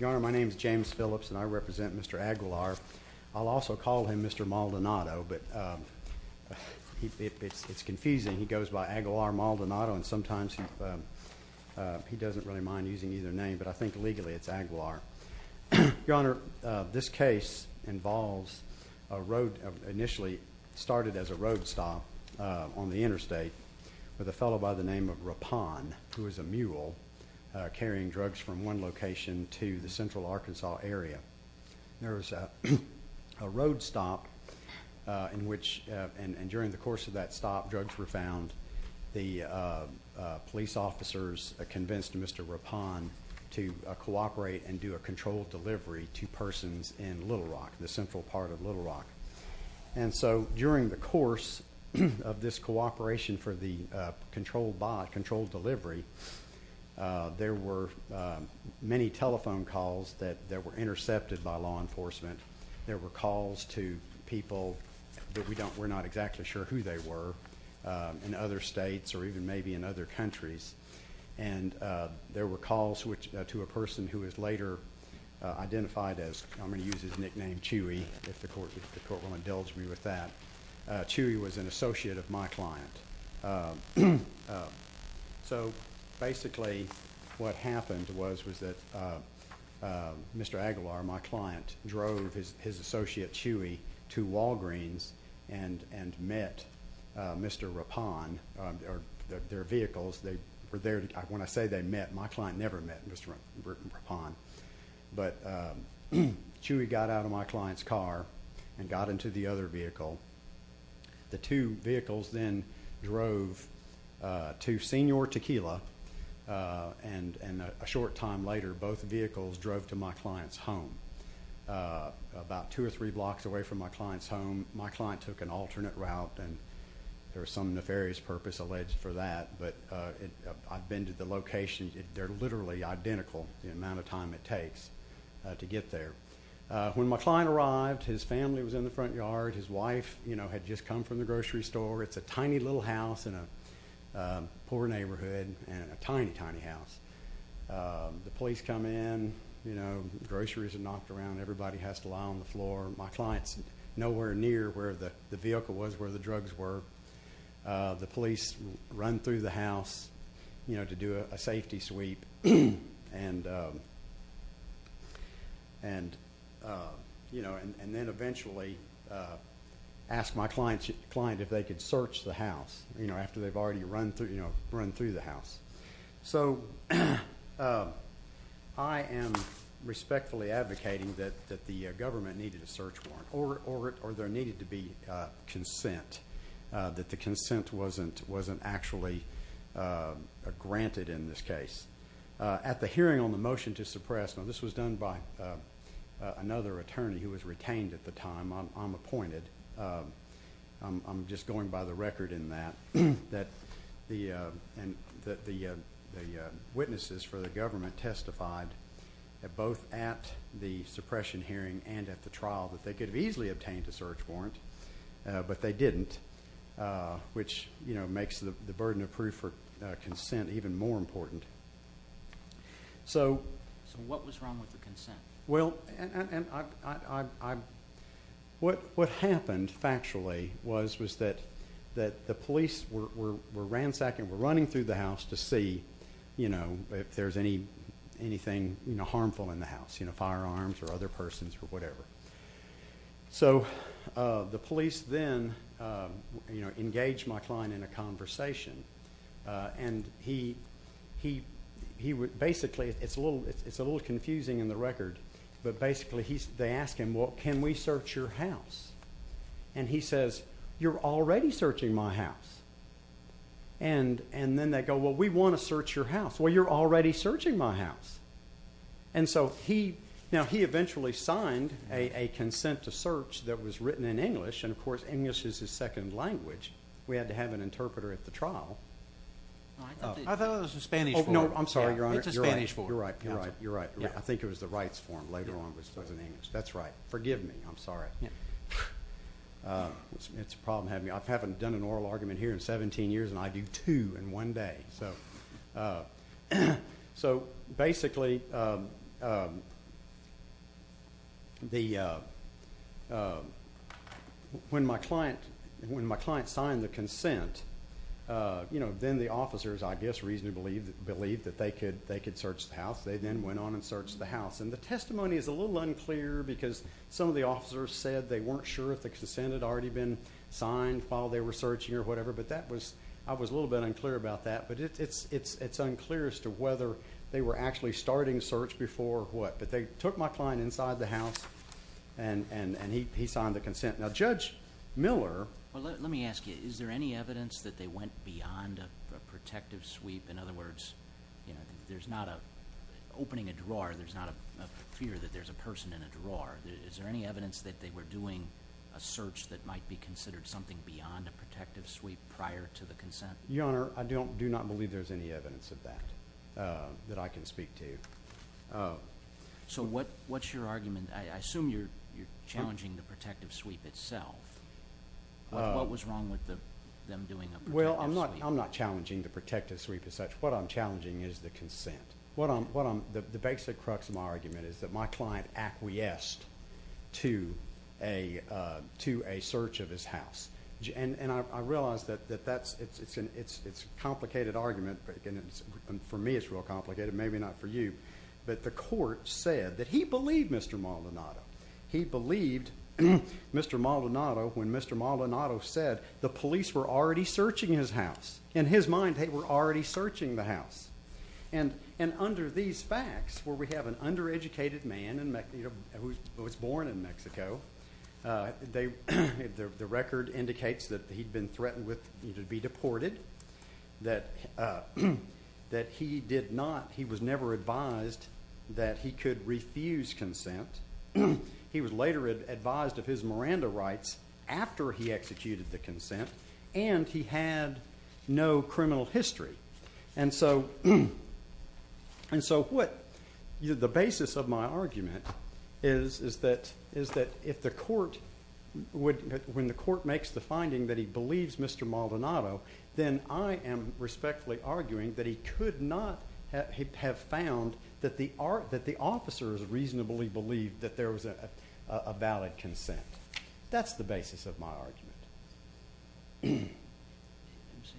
Your Honor, my name is James Phillips and I represent Mr. Aguilar. I'll also call him Mr. Maldonado, but it's confusing. He goes by Aguilar Maldonado and sometimes he doesn't really mind using either name, but I think legally it's Aguilar. Your Honor, this case involves a road initially started as a road stop on the interstate with a fellow by the name of Rapon who was a mule carrying drugs from one location to the central Arkansas area. There was a road stop and during the course of that stop drugs were found. The police officers convinced Mr. Rapon to cooperate and do a controlled delivery to persons in Little Rock, the central part of Little Rock. And so during the course of this cooperation for the controlled delivery, there were many telephone calls that were intercepted by law enforcement. There were calls to people that we're not exactly sure who they were in other states or even maybe in other countries. And there were calls to a person who was later identified as, I'm going to use his nickname Chewy, if the court will indulge me with that. Chewy was an associate of my client. So basically what happened was that Mr. Aguilar, my client, drove his associate Chewy to Walgreens and met Mr. Rapon, their vehicles. When I say they met, my client never met Mr. Rapon. But Chewy got out of my client's car and got into the other vehicle. The two vehicles then drove to Senior Tequila and a short time later both vehicles drove to my client's home. About two or three blocks away from my client's home, my client took an alternate route, and there was some nefarious purpose alleged for that. But I've been to the location. They're literally identical, the amount of time it takes to get there. When my client arrived, his family was in the front yard. His wife had just come from the grocery store. It's a tiny little house in a poor neighborhood and a tiny, tiny house. The police come in. Groceries are knocked around. Everybody has to lie on the floor. My client's nowhere near where the vehicle was where the drugs were. The police run through the house to do a safety sweep and then eventually ask my client if they could search the house after they've already run through the house. So I am respectfully advocating that the government needed a search warrant or there needed to be consent, that the consent wasn't actually granted in this case. At the hearing on the motion to suppress, now this was done by another attorney who was retained at the time. I'm appointed. I'm just going by the record in that the witnesses for the government testified both at the suppression hearing and at the trial that they could have easily obtained a search warrant, but they didn't, which makes the burden of proof for consent even more important. Well, what happened factually was that the police were ransacking, were running through the house to see if there's anything harmful in the house, firearms or other persons or whatever. So the police then engaged my client in a conversation. And he basically, it's a little confusing in the record, but basically they ask him, well, can we search your house? And he says, you're already searching my house. And then they go, well, we want to search your house. Well, you're already searching my house. And so now he eventually signed a consent to search that was written in English, and of course English is his second language. We had to have an interpreter at the trial. I thought that was the Spanish form. Oh, no, I'm sorry, Your Honor. It's the Spanish form. You're right. You're right. I think it was the rights form later on that was in English. That's right. Forgive me. I'm sorry. It's a problem having me. I haven't done an oral argument here in 17 years, and I do two in one day. So basically, when my client signed the consent, then the officers, I guess, reasonably believed that they could search the house. They then went on and searched the house. And the testimony is a little unclear because some of the officers said they weren't sure if the consent had already been signed while they were searching or whatever, but I was a little bit unclear about that. But it's unclear as to whether they were actually starting search before what. But they took my client inside the house, and he signed the consent. Now, Judge Miller. Well, let me ask you. Is there any evidence that they went beyond a protective sweep? In other words, there's not a opening a drawer, there's not a fear that there's a person in a drawer. Is there any evidence that they were doing a search that might be considered something beyond a protective sweep prior to the consent? Your Honor, I do not believe there's any evidence of that that I can speak to. So what's your argument? I assume you're challenging the protective sweep itself. What was wrong with them doing a protective sweep? Well, I'm not challenging the protective sweep as such. What I'm challenging is the consent. The basic crux of my argument is that my client acquiesced to a search of his house. And I realize that it's a complicated argument, and for me it's real complicated, maybe not for you. But the court said that he believed Mr. Maldonado. He believed Mr. Maldonado when Mr. Maldonado said the police were already searching his house. In his mind, they were already searching the house. And under these facts, where we have an undereducated man who was born in Mexico, the record indicates that he'd been threatened with being deported, that he did not, he was never advised that he could refuse consent. He was later advised of his Miranda rights after he executed the consent, and he had no criminal history. And so what the basis of my argument is that if the court would, when the court makes the finding that he believes Mr. Maldonado, then I am respectfully arguing that he could not have found that the officers reasonably believed that there was a valid consent.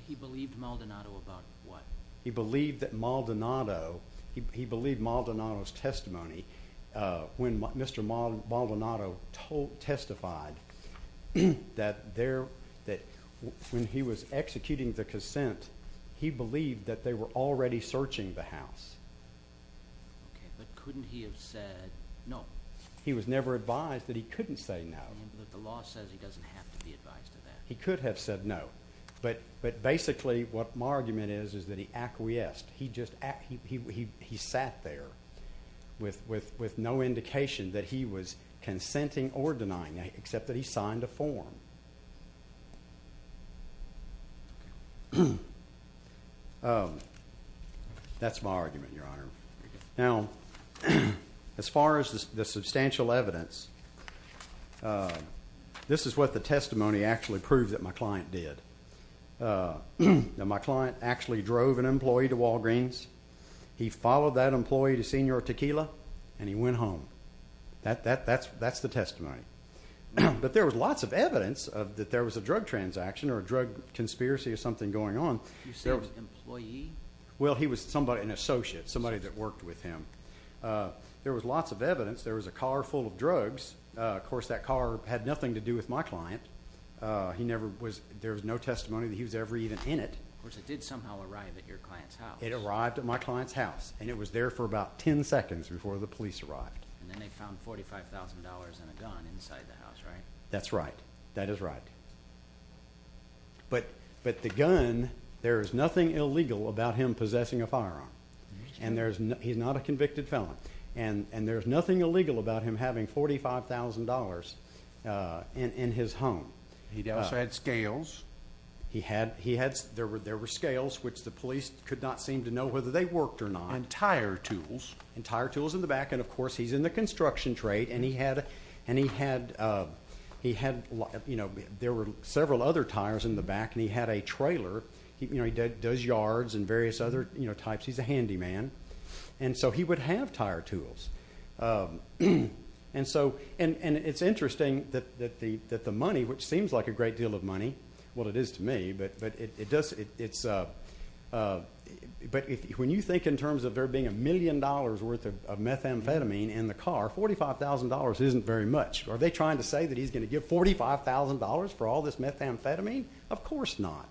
He believed Maldonado about what? He believed that Maldonado, he believed Maldonado's testimony when Mr. Maldonado testified that there, that when he was executing the consent, he believed that they were already searching the house. Okay, but couldn't he have said no? He was never advised that he couldn't say no. But the law says he doesn't have to be advised of that. He could have said no, but basically what my argument is is that he acquiesced. He just, he sat there with no indication that he was consenting or denying, except that he signed a form. That's my argument, Your Honor. Now, as far as the substantial evidence, this is what the testimony actually proved that my client did. My client actually drove an employee to Walgreens. He followed that employee to Senor Tequila, and he went home. That's the testimony. But there was lots of evidence that there was a drug transaction or a drug conspiracy or something going on. You said employee? Well, he was somebody, an associate, somebody that worked with him. There was lots of evidence. There was a car full of drugs. Of course, that car had nothing to do with my client. He never was, there was no testimony that he was ever even in it. Of course, it did somehow arrive at your client's house. It arrived at my client's house, and it was there for about 10 seconds before the police arrived. And then they found $45,000 and a gun inside the house, right? That's right. That is right. But the gun, there is nothing illegal about him possessing a firearm. He's not a convicted felon. And there's nothing illegal about him having $45,000 in his home. He also had scales. There were scales, which the police could not seem to know whether they worked or not. And tire tools. And tire tools in the back. And, of course, he's in the construction trade. And he had, you know, there were several other tires in the back, and he had a trailer. You know, he does yards and various other, you know, types. He's a handyman. And so he would have tire tools. And so, and it's interesting that the money, which seems like a great deal of money. Well, it is to me. But when you think in terms of there being a million dollars worth of methamphetamine in the car, $45,000 isn't very much. Are they trying to say that he's going to give $45,000 for all this methamphetamine? Of course not.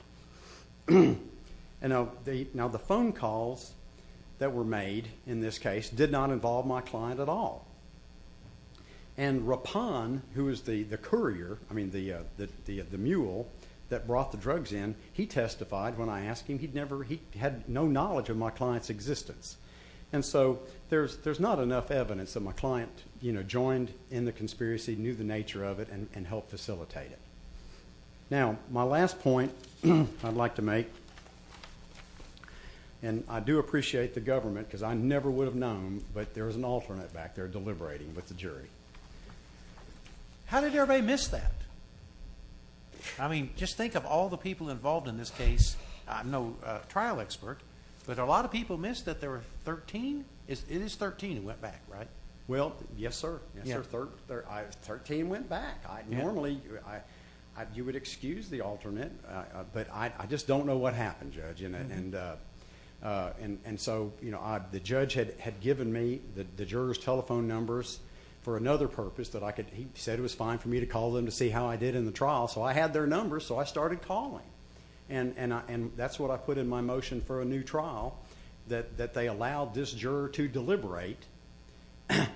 Now, the phone calls that were made in this case did not involve my client at all. And Rapan, who is the courier, I mean the mule that brought the drugs in, he testified when I asked him. He had no knowledge of my client's existence. And so there's not enough evidence that my client, you know, joined in the conspiracy, knew the nature of it, and helped facilitate it. Now, my last point I'd like to make, and I do appreciate the government, because I never would have known, but there was an alternate back there deliberating with the jury. How did everybody miss that? I mean, just think of all the people involved in this case. I'm no trial expert, but a lot of people missed that there were 13. It is 13 who went back, right? Well, yes, sir. Yes, sir. Thirteen went back. Normally you would excuse the alternate, but I just don't know what happened, Judge. And so, you know, the judge had given me the jurors' telephone numbers for another purpose. He said it was fine for me to call them to see how I did in the trial. So I had their numbers, so I started calling. And that's what I put in my motion for a new trial, that they allowed this juror to deliberate,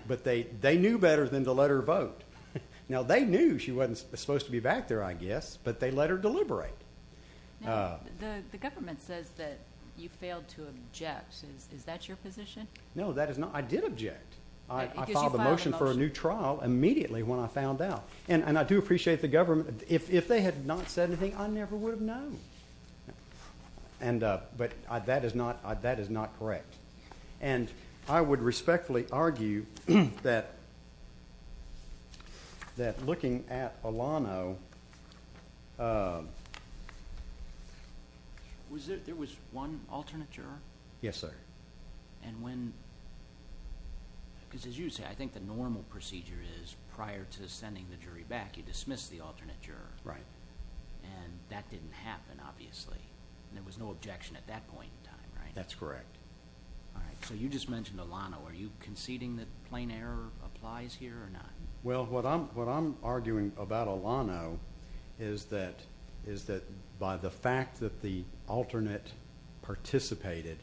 but they knew better than to let her vote. Now, they knew she wasn't supposed to be back there, I guess, but they let her deliberate. Now, the government says that you failed to object. Is that your position? No, that is not. I did object. I filed a motion for a new trial immediately when I found out. And I do appreciate the government. If they had not said anything, I never would have known. But that is not correct. And I would respectfully argue that looking at Alano. There was one alternate juror? Yes, sir. And when? Because as you say, I think the normal procedure is prior to sending the jury back, you dismiss the alternate juror. Right. And that didn't happen, obviously. And there was no objection at that point in time, right? That's correct. All right. So you just mentioned Alano. Are you conceding that plain error applies here or not? Well, what I'm arguing about Alano is that by the fact that the alternate participated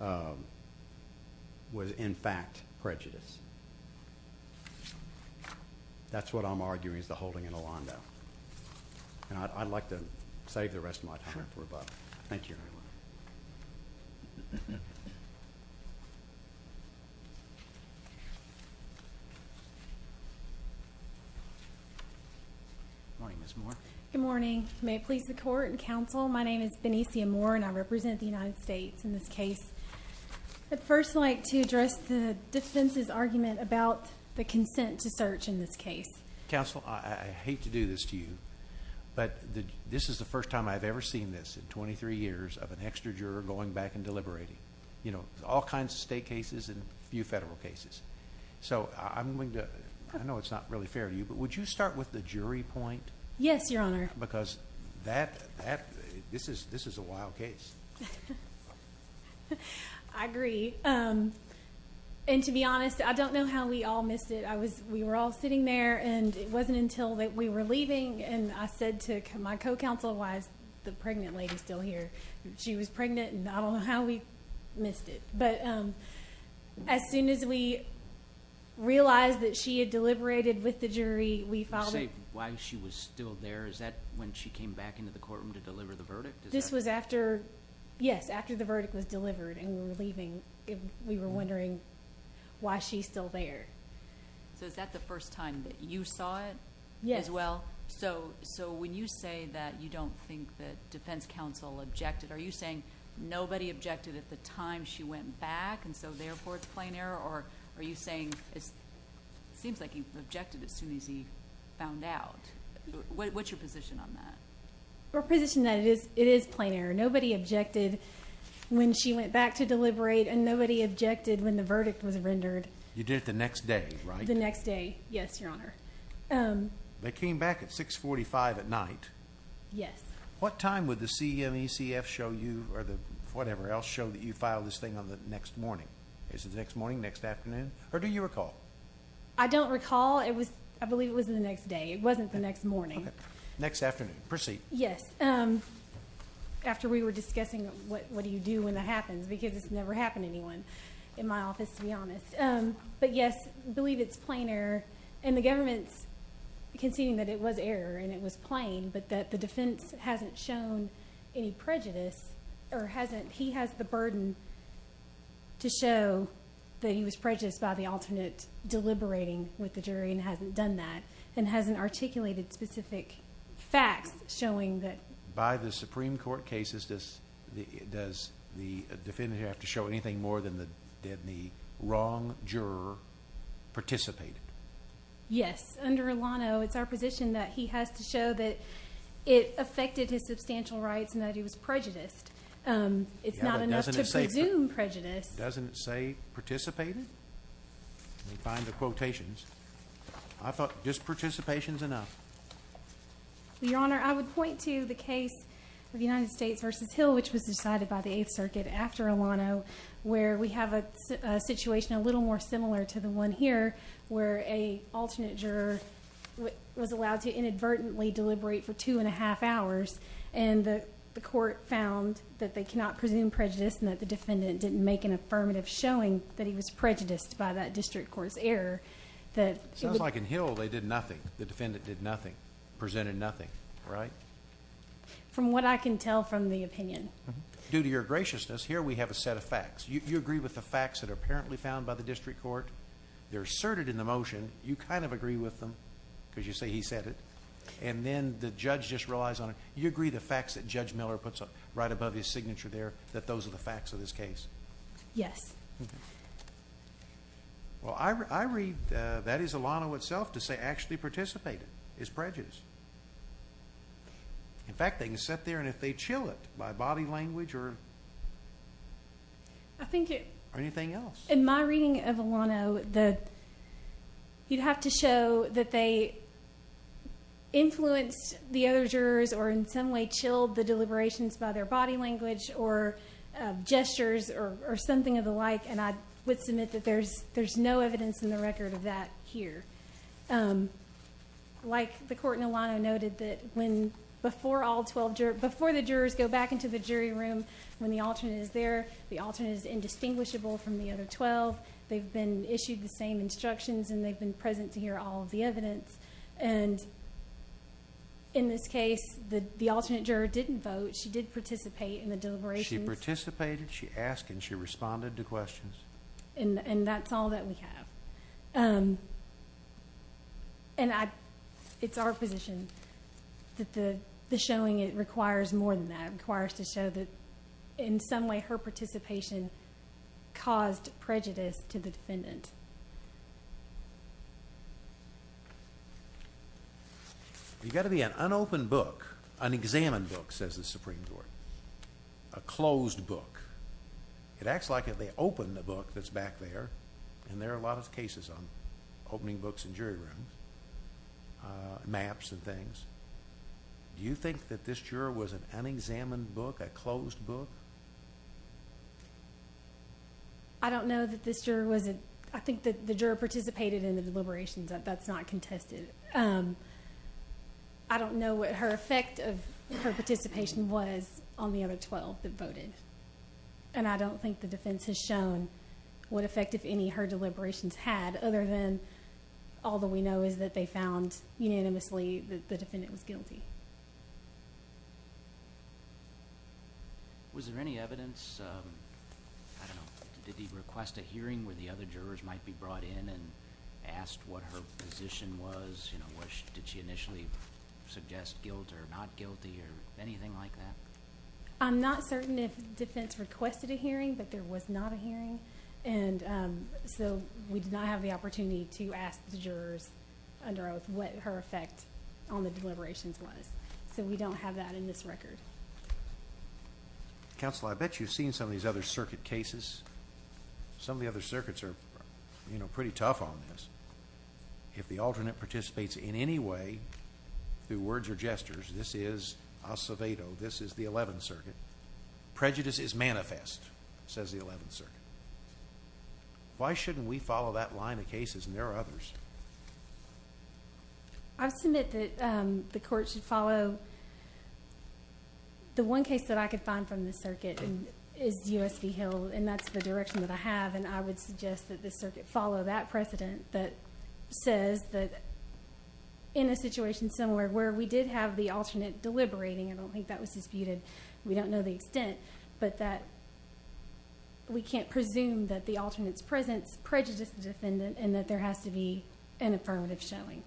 was, in fact, prejudice. That's what I'm arguing is the holding in Alano. And I'd like to save the rest of my time for Bob. Thank you. Good morning, Ms. Moore. Good morning. May it please the Court and Counsel, my name is Benicia Moore and I represent the United States in this case. I'd first like to address the defense's argument about the consent to search in this case. Counsel, I hate to do this to you, but this is the first time I've ever seen this in 23 years of an extra juror going back and deliberating. You know, all kinds of state cases and a few federal cases. So I know it's not really fair to you, but would you start with the jury point? Yes, Your Honor. Because this is a wild case. I agree. And to be honest, I don't know how we all missed it. We were all sitting there and it wasn't until we were leaving and I said to my co-counsel, why is the pregnant lady still here? She was pregnant and I don't know how we missed it. But as soon as we realized that she had deliberated with the jury, we followed up. Why she was still there, is that when she came back into the courtroom to deliver the verdict? This was after, yes, after the verdict was delivered and we were leaving. We were wondering why she's still there. So is that the first time that you saw it as well? Yes. So when you say that you don't think that defense counsel objected, are you saying nobody objected at the time she went back and so therefore it's plain error? Or are you saying it seems like he objected as soon as he found out? What's your position on that? Our position is that it is plain error. Nobody objected when she went back to deliberate and nobody objected when the verdict was rendered. You did it the next day, right? The next day, yes, Your Honor. They came back at 645 at night. Yes. What time would the CMECF show you or whatever else show that you filed this thing on the next morning? Is it the next morning, next afternoon? Or do you recall? I don't recall. I believe it was the next day. It wasn't the next morning. Next afternoon. Proceed. Yes. After we were discussing what do you do when that happens because it's never happened to anyone in my office, to be honest. But, yes, I believe it's plain error. And the government's conceding that it was error and it was plain but that the defense hasn't shown any prejudice or hasn't. He has the burden to show that he was prejudiced by the alternate deliberating with the jury and hasn't done that and hasn't articulated specific facts showing that. By the Supreme Court cases, does the defendant have to show anything more than the wrong juror participated? Yes. Under Ilano, it's our position that he has to show that it affected his substantial rights and that he was prejudiced. It's not enough to presume prejudice. Doesn't it say participated? Let me find the quotations. I thought just participation is enough. Your Honor, I would point to the case of United States v. Hill, which was decided by the Eighth Circuit after Ilano, where we have a situation a little more similar to the one here where a alternate juror was allowed to inadvertently deliberate for two and a half hours and the court found that they cannot presume prejudice and that the defendant didn't make an affirmative showing that he was prejudiced by that district court's error. Sounds like in Hill, they did nothing. The defendant did nothing, presented nothing, right? From what I can tell from the opinion. Due to your graciousness, here we have a set of facts. You agree with the facts that are apparently found by the district court. They're asserted in the motion. You kind of agree with them because you say he said it. And then the judge just relies on it. You agree the facts that Judge Miller puts right above his signature there, that those are the facts of this case? Yes. Well, I read that is Ilano itself to say actually participate is prejudice. In fact, they can sit there and if they chill it by body language or anything else. In my reading of Ilano, you'd have to show that they influenced the other jurors or in some way chilled the deliberations by their body language or gestures or something of the like. And I would submit that there's no evidence in the record of that here. Like the court in Ilano noted that before the jurors go back into the jury room when the alternate is there, the alternate is indistinguishable from the other 12. They've been issued the same instructions and they've been present to hear all of the evidence. And in this case, the alternate juror didn't vote. She did participate in the deliberations. She participated, she asked, and she responded to questions. And that's all that we have. And it's our position that the showing requires more than that. It requires to show that in some way her participation caused prejudice to the defendant. You've got to be an unopened book, an examined book, says the Supreme Court, a closed book. It acts like if they open the book that's back there, and there are a lot of cases on opening books in jury rooms, maps and things. Do you think that this juror was an unexamined book, a closed book? I don't know that this juror was. I think that the juror participated in the deliberations. That's not contested. I don't know what her effect of her participation was on the other 12 that voted. And I don't think the defense has shown what effect, if any, her deliberations had, other than all that we know is that they found unanimously that the defendant was guilty. Was there any evidence, I don't know, did he request a hearing where the other jurors might be brought in and asked what her position was? Did she initially suggest guilt or not guilty or anything like that? I'm not certain if defense requested a hearing, but there was not a hearing. And so we did not have the opportunity to ask the jurors under oath what her effect on the deliberations was. So we don't have that in this record. Counsel, I bet you've seen some of these other circuit cases. Some of the other circuits are pretty tough on this. If the alternate participates in any way, through words or gestures, this is Acevedo. This is the 11th Circuit. Prejudice is manifest, says the 11th Circuit. Why shouldn't we follow that line of cases, and there are others? I submit that the court should follow the one case that I could find from the circuit, and is U.S. v. Hill, and that's the direction that I have. And I would suggest that the circuit follow that precedent that says that in a situation somewhere where we did have the alternate deliberating, I don't think that was disputed, we don't know the extent, but that we can't presume that the alternate's presence prejudiced the defendant and that there has to be an affirmative showing.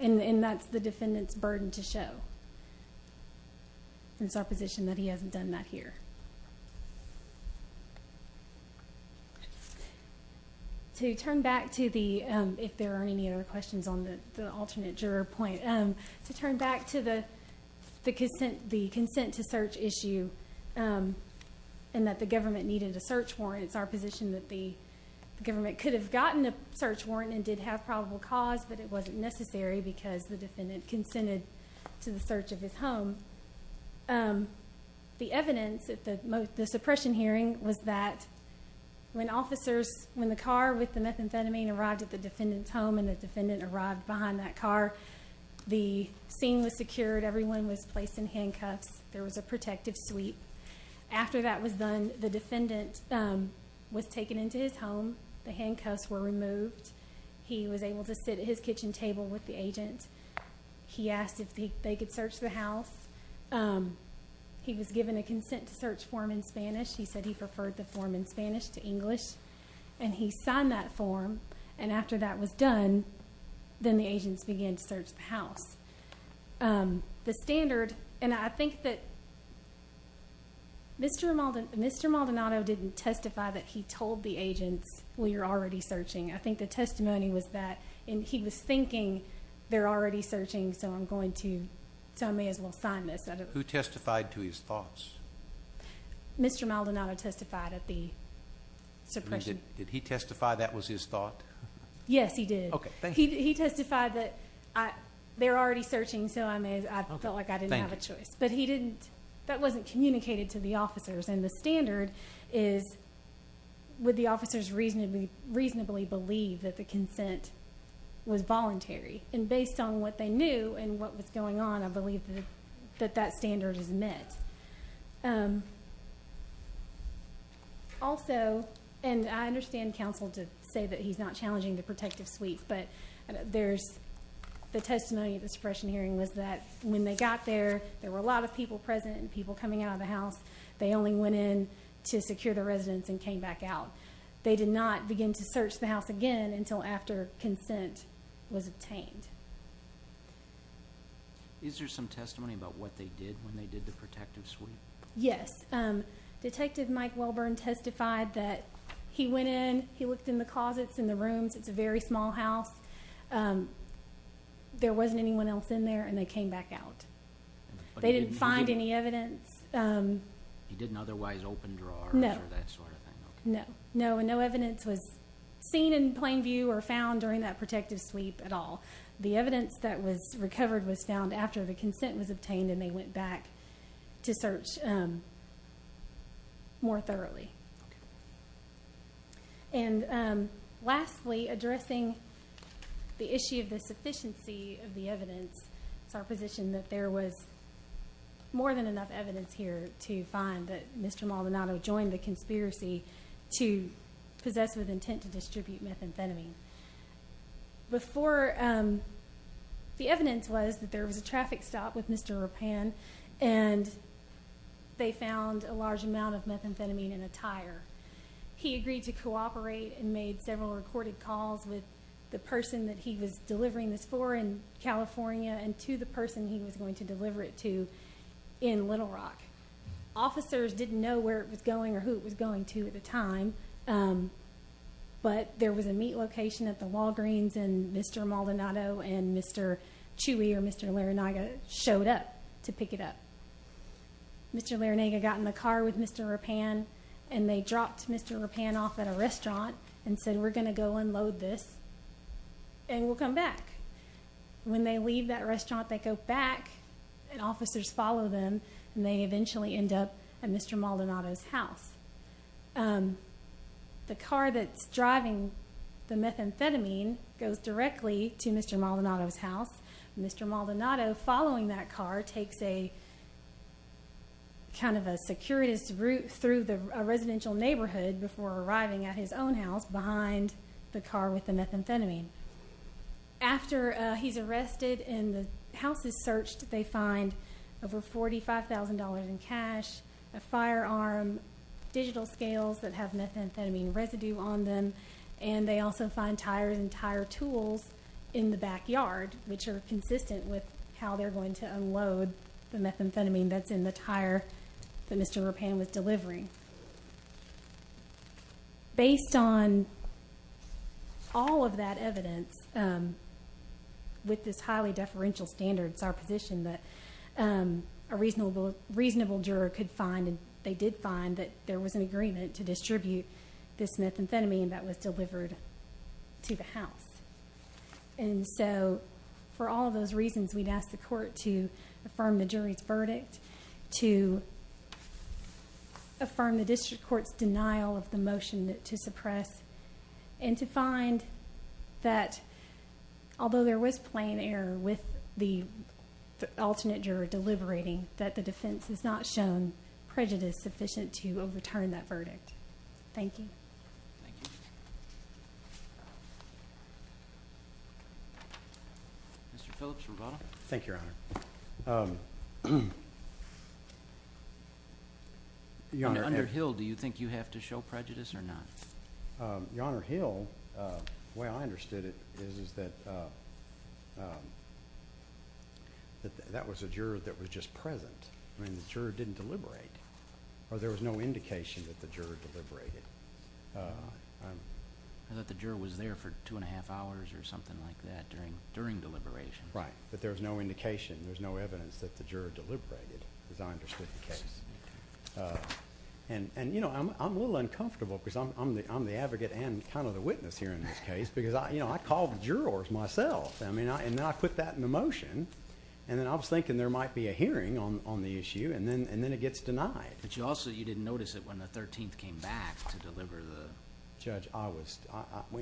And that's the defendant's burden to show. And it's our position that he hasn't done that here. To turn back to the, if there are any other questions on the alternate juror point, to turn back to the consent to search issue and that the government needed a search warrant, it's our position that the government could have gotten a search warrant and did have probable cause, but it wasn't necessary because the defendant consented to the search of his home. The evidence at the suppression hearing was that when officers, when the car with the methamphetamine arrived at the defendant's home and the defendant arrived behind that car, the scene was secured. Everyone was placed in handcuffs. There was a protective suite. After that was done, the defendant was taken into his home. The handcuffs were removed. He was able to sit at his kitchen table with the agent. He asked if they could search the house. He was given a consent to search form in Spanish. He said he preferred the form in Spanish to English, and he signed that form. And after that was done, then the agents began to search the house. The standard, and I think that Mr. Maldonado didn't testify that he told the agents, well, you're already searching. I think the testimony was that he was thinking they're already searching, so I may as well sign this. Who testified to his thoughts? Mr. Maldonado testified at the suppression. Did he testify that was his thought? Yes, he did. He testified that they're already searching, so I felt like I didn't have a choice. But he didn't. That wasn't communicated to the officers. And the standard is, would the officers reasonably believe that the consent was voluntary? And based on what they knew and what was going on, I believe that that standard is met. Also, and I understand counsel to say that he's not challenging the protective suite, but there's the testimony at the suppression hearing was that when they got there, there were a lot of people present and people coming out of the house. They only went in to secure the residence and came back out. They did not begin to search the house again until after consent was obtained. Is there some testimony about what they did when they did the protective suite? Yes. Detective Mike Welburn testified that he went in, he looked in the closets, in the rooms. It's a very small house. There wasn't anyone else in there, and they came back out. They didn't find any evidence. He didn't otherwise open drawers or that sort of thing? No. No, and no evidence was seen in plain view or found during that protective suite at all. The evidence that was recovered was found after the consent was obtained, and they went back to search more thoroughly. And lastly, addressing the issue of the sufficiency of the evidence, it's our position that there was more than enough evidence here to find that Mr. Maldonado joined the conspiracy to possess with intent to distribute methamphetamine. The evidence was that there was a traffic stop with Mr. Rapin, and they found a large amount of methamphetamine in a tire. He agreed to cooperate and made several recorded calls with the person that he was delivering this for in California and to the person he was going to deliver it to in Little Rock. Officers didn't know where it was going or who it was going to at the time, but there was a meat location at the Walgreens, and Mr. Maldonado and Mr. Chewy or Mr. Laranaga showed up to pick it up. Mr. Laranaga got in the car with Mr. Rapin, and they dropped Mr. Rapin off at a restaurant and said, we're going to go unload this, and we'll come back. When they leave that restaurant, they go back, and officers follow them, and they eventually end up at Mr. Maldonado's house. The car that's driving the methamphetamine goes directly to Mr. Maldonado's house. Mr. Maldonado, following that car, takes a kind of a circuitous route through a residential neighborhood before arriving at his own house behind the car with the methamphetamine. After he's arrested and the house is searched, they find over $45,000 in cash, a firearm, digital scales that have methamphetamine residue on them, and they also find tires and tire tools in the backyard, which are consistent with how they're going to unload the methamphetamine that's in the tire that Mr. Rapin was delivering. Based on all of that evidence, with this highly deferential standards, our position that a reasonable juror could find, and they did find that there was an agreement to distribute this methamphetamine that was delivered to the house. And so for all of those reasons, we'd ask the court to affirm the jury's verdict, to affirm the district court's denial of the motion to suppress, and to find that although there was plain error with the alternate juror deliberating, that the defense has not shown prejudice sufficient to overturn that verdict. Thank you. Mr. Phillips, rebuttal. Thank you, Your Honor. Your Honor. Under Hill, do you think you have to show prejudice or not? Your Honor, Hill, the way I understood it is that that was a juror that was just present. I mean, the juror didn't deliberate, or there was no indication that the juror deliberated. I thought the juror was there for two and a half hours or something like that during deliberation. Right, but there was no indication, there was no evidence that the juror deliberated as I understood the case. And, you know, I'm a little uncomfortable because I'm the advocate and kind of the witness here in this case because, you know, I called the jurors myself. I mean, and then I put that in the motion, and then I was thinking there might be a hearing on the issue, and then it gets denied. But you also didn't notice it when the 13th came back to deliver the... Judge, I was...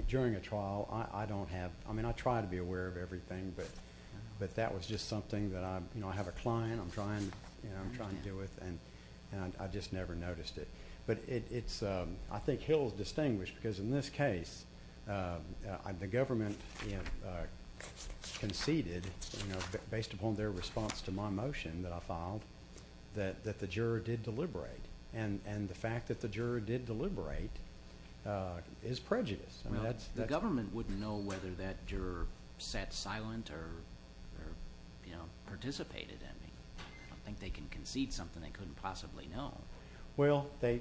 during a trial, I don't have... I mean, I try to be aware of everything, but that was just something that I... you know, I have a client I'm trying to deal with, and I just never noticed it. But it's... I think Hill is distinguished because in this case, the government conceded, you know, based upon their response to my motion that I filed, that the juror did deliberate. And the fact that the juror did deliberate is prejudiced. Well, the government wouldn't know whether that juror sat silent or, you know, participated in it. I don't think they can concede something they couldn't possibly know. Well, they...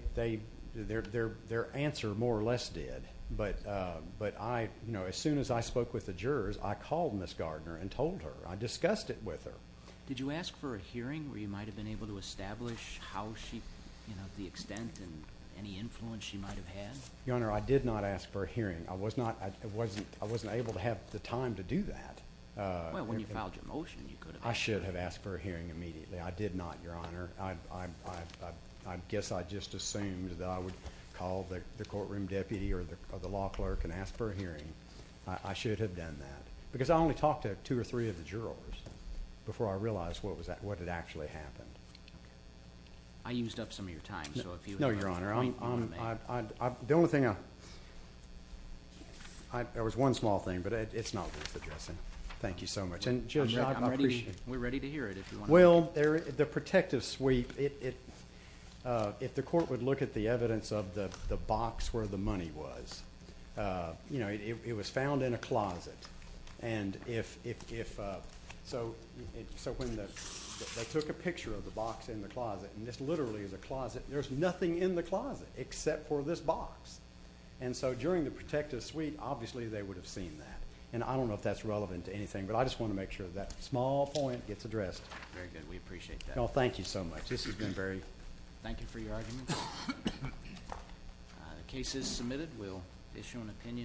their answer more or less did. But I... you know, as soon as I spoke with the jurors, I called Ms. Gardner and told her. I discussed it with her. Did you ask for a hearing where you might have been able to establish how she... you know, the extent and any influence she might have had? Your Honor, I did not ask for a hearing. I was not... I wasn't... I wasn't able to have the time to do that. Well, when you filed your motion, you could have. I should have asked for a hearing immediately. I did not, Your Honor. I... I guess I just assumed that I would call the courtroom deputy or the law clerk and ask for a hearing. I should have done that. Because I only talked to two or three of the jurors before I realized what was... what had actually happened. I used up some of your time, so if you... No, Your Honor, I'm... I'm... I'm... I'm... I'm... The only thing I... I... I... There was one small thing, but it's not worth addressing. Thank you so much. And, Judge, I appreciate... We're ready to hear it if you want to. Well, there... the protective sweep, it... it... If the court would look at the evidence of the box where the money was, you know, it... it... it was found in a closet. And, if... if... if... so... so when the... they took a picture of the box in the closet, and this literally is a closet, there's nothing in the closet except for this box. And, so, during the protective sweep, obviously, they would have seen that. And, I don't know if that's relevant to anything, but I just want to make sure that small point gets addressed. Very good. We appreciate that. Oh, thank you so much. This has been very... Thank you for your argument. The case is submitted. We'll issue an opinion...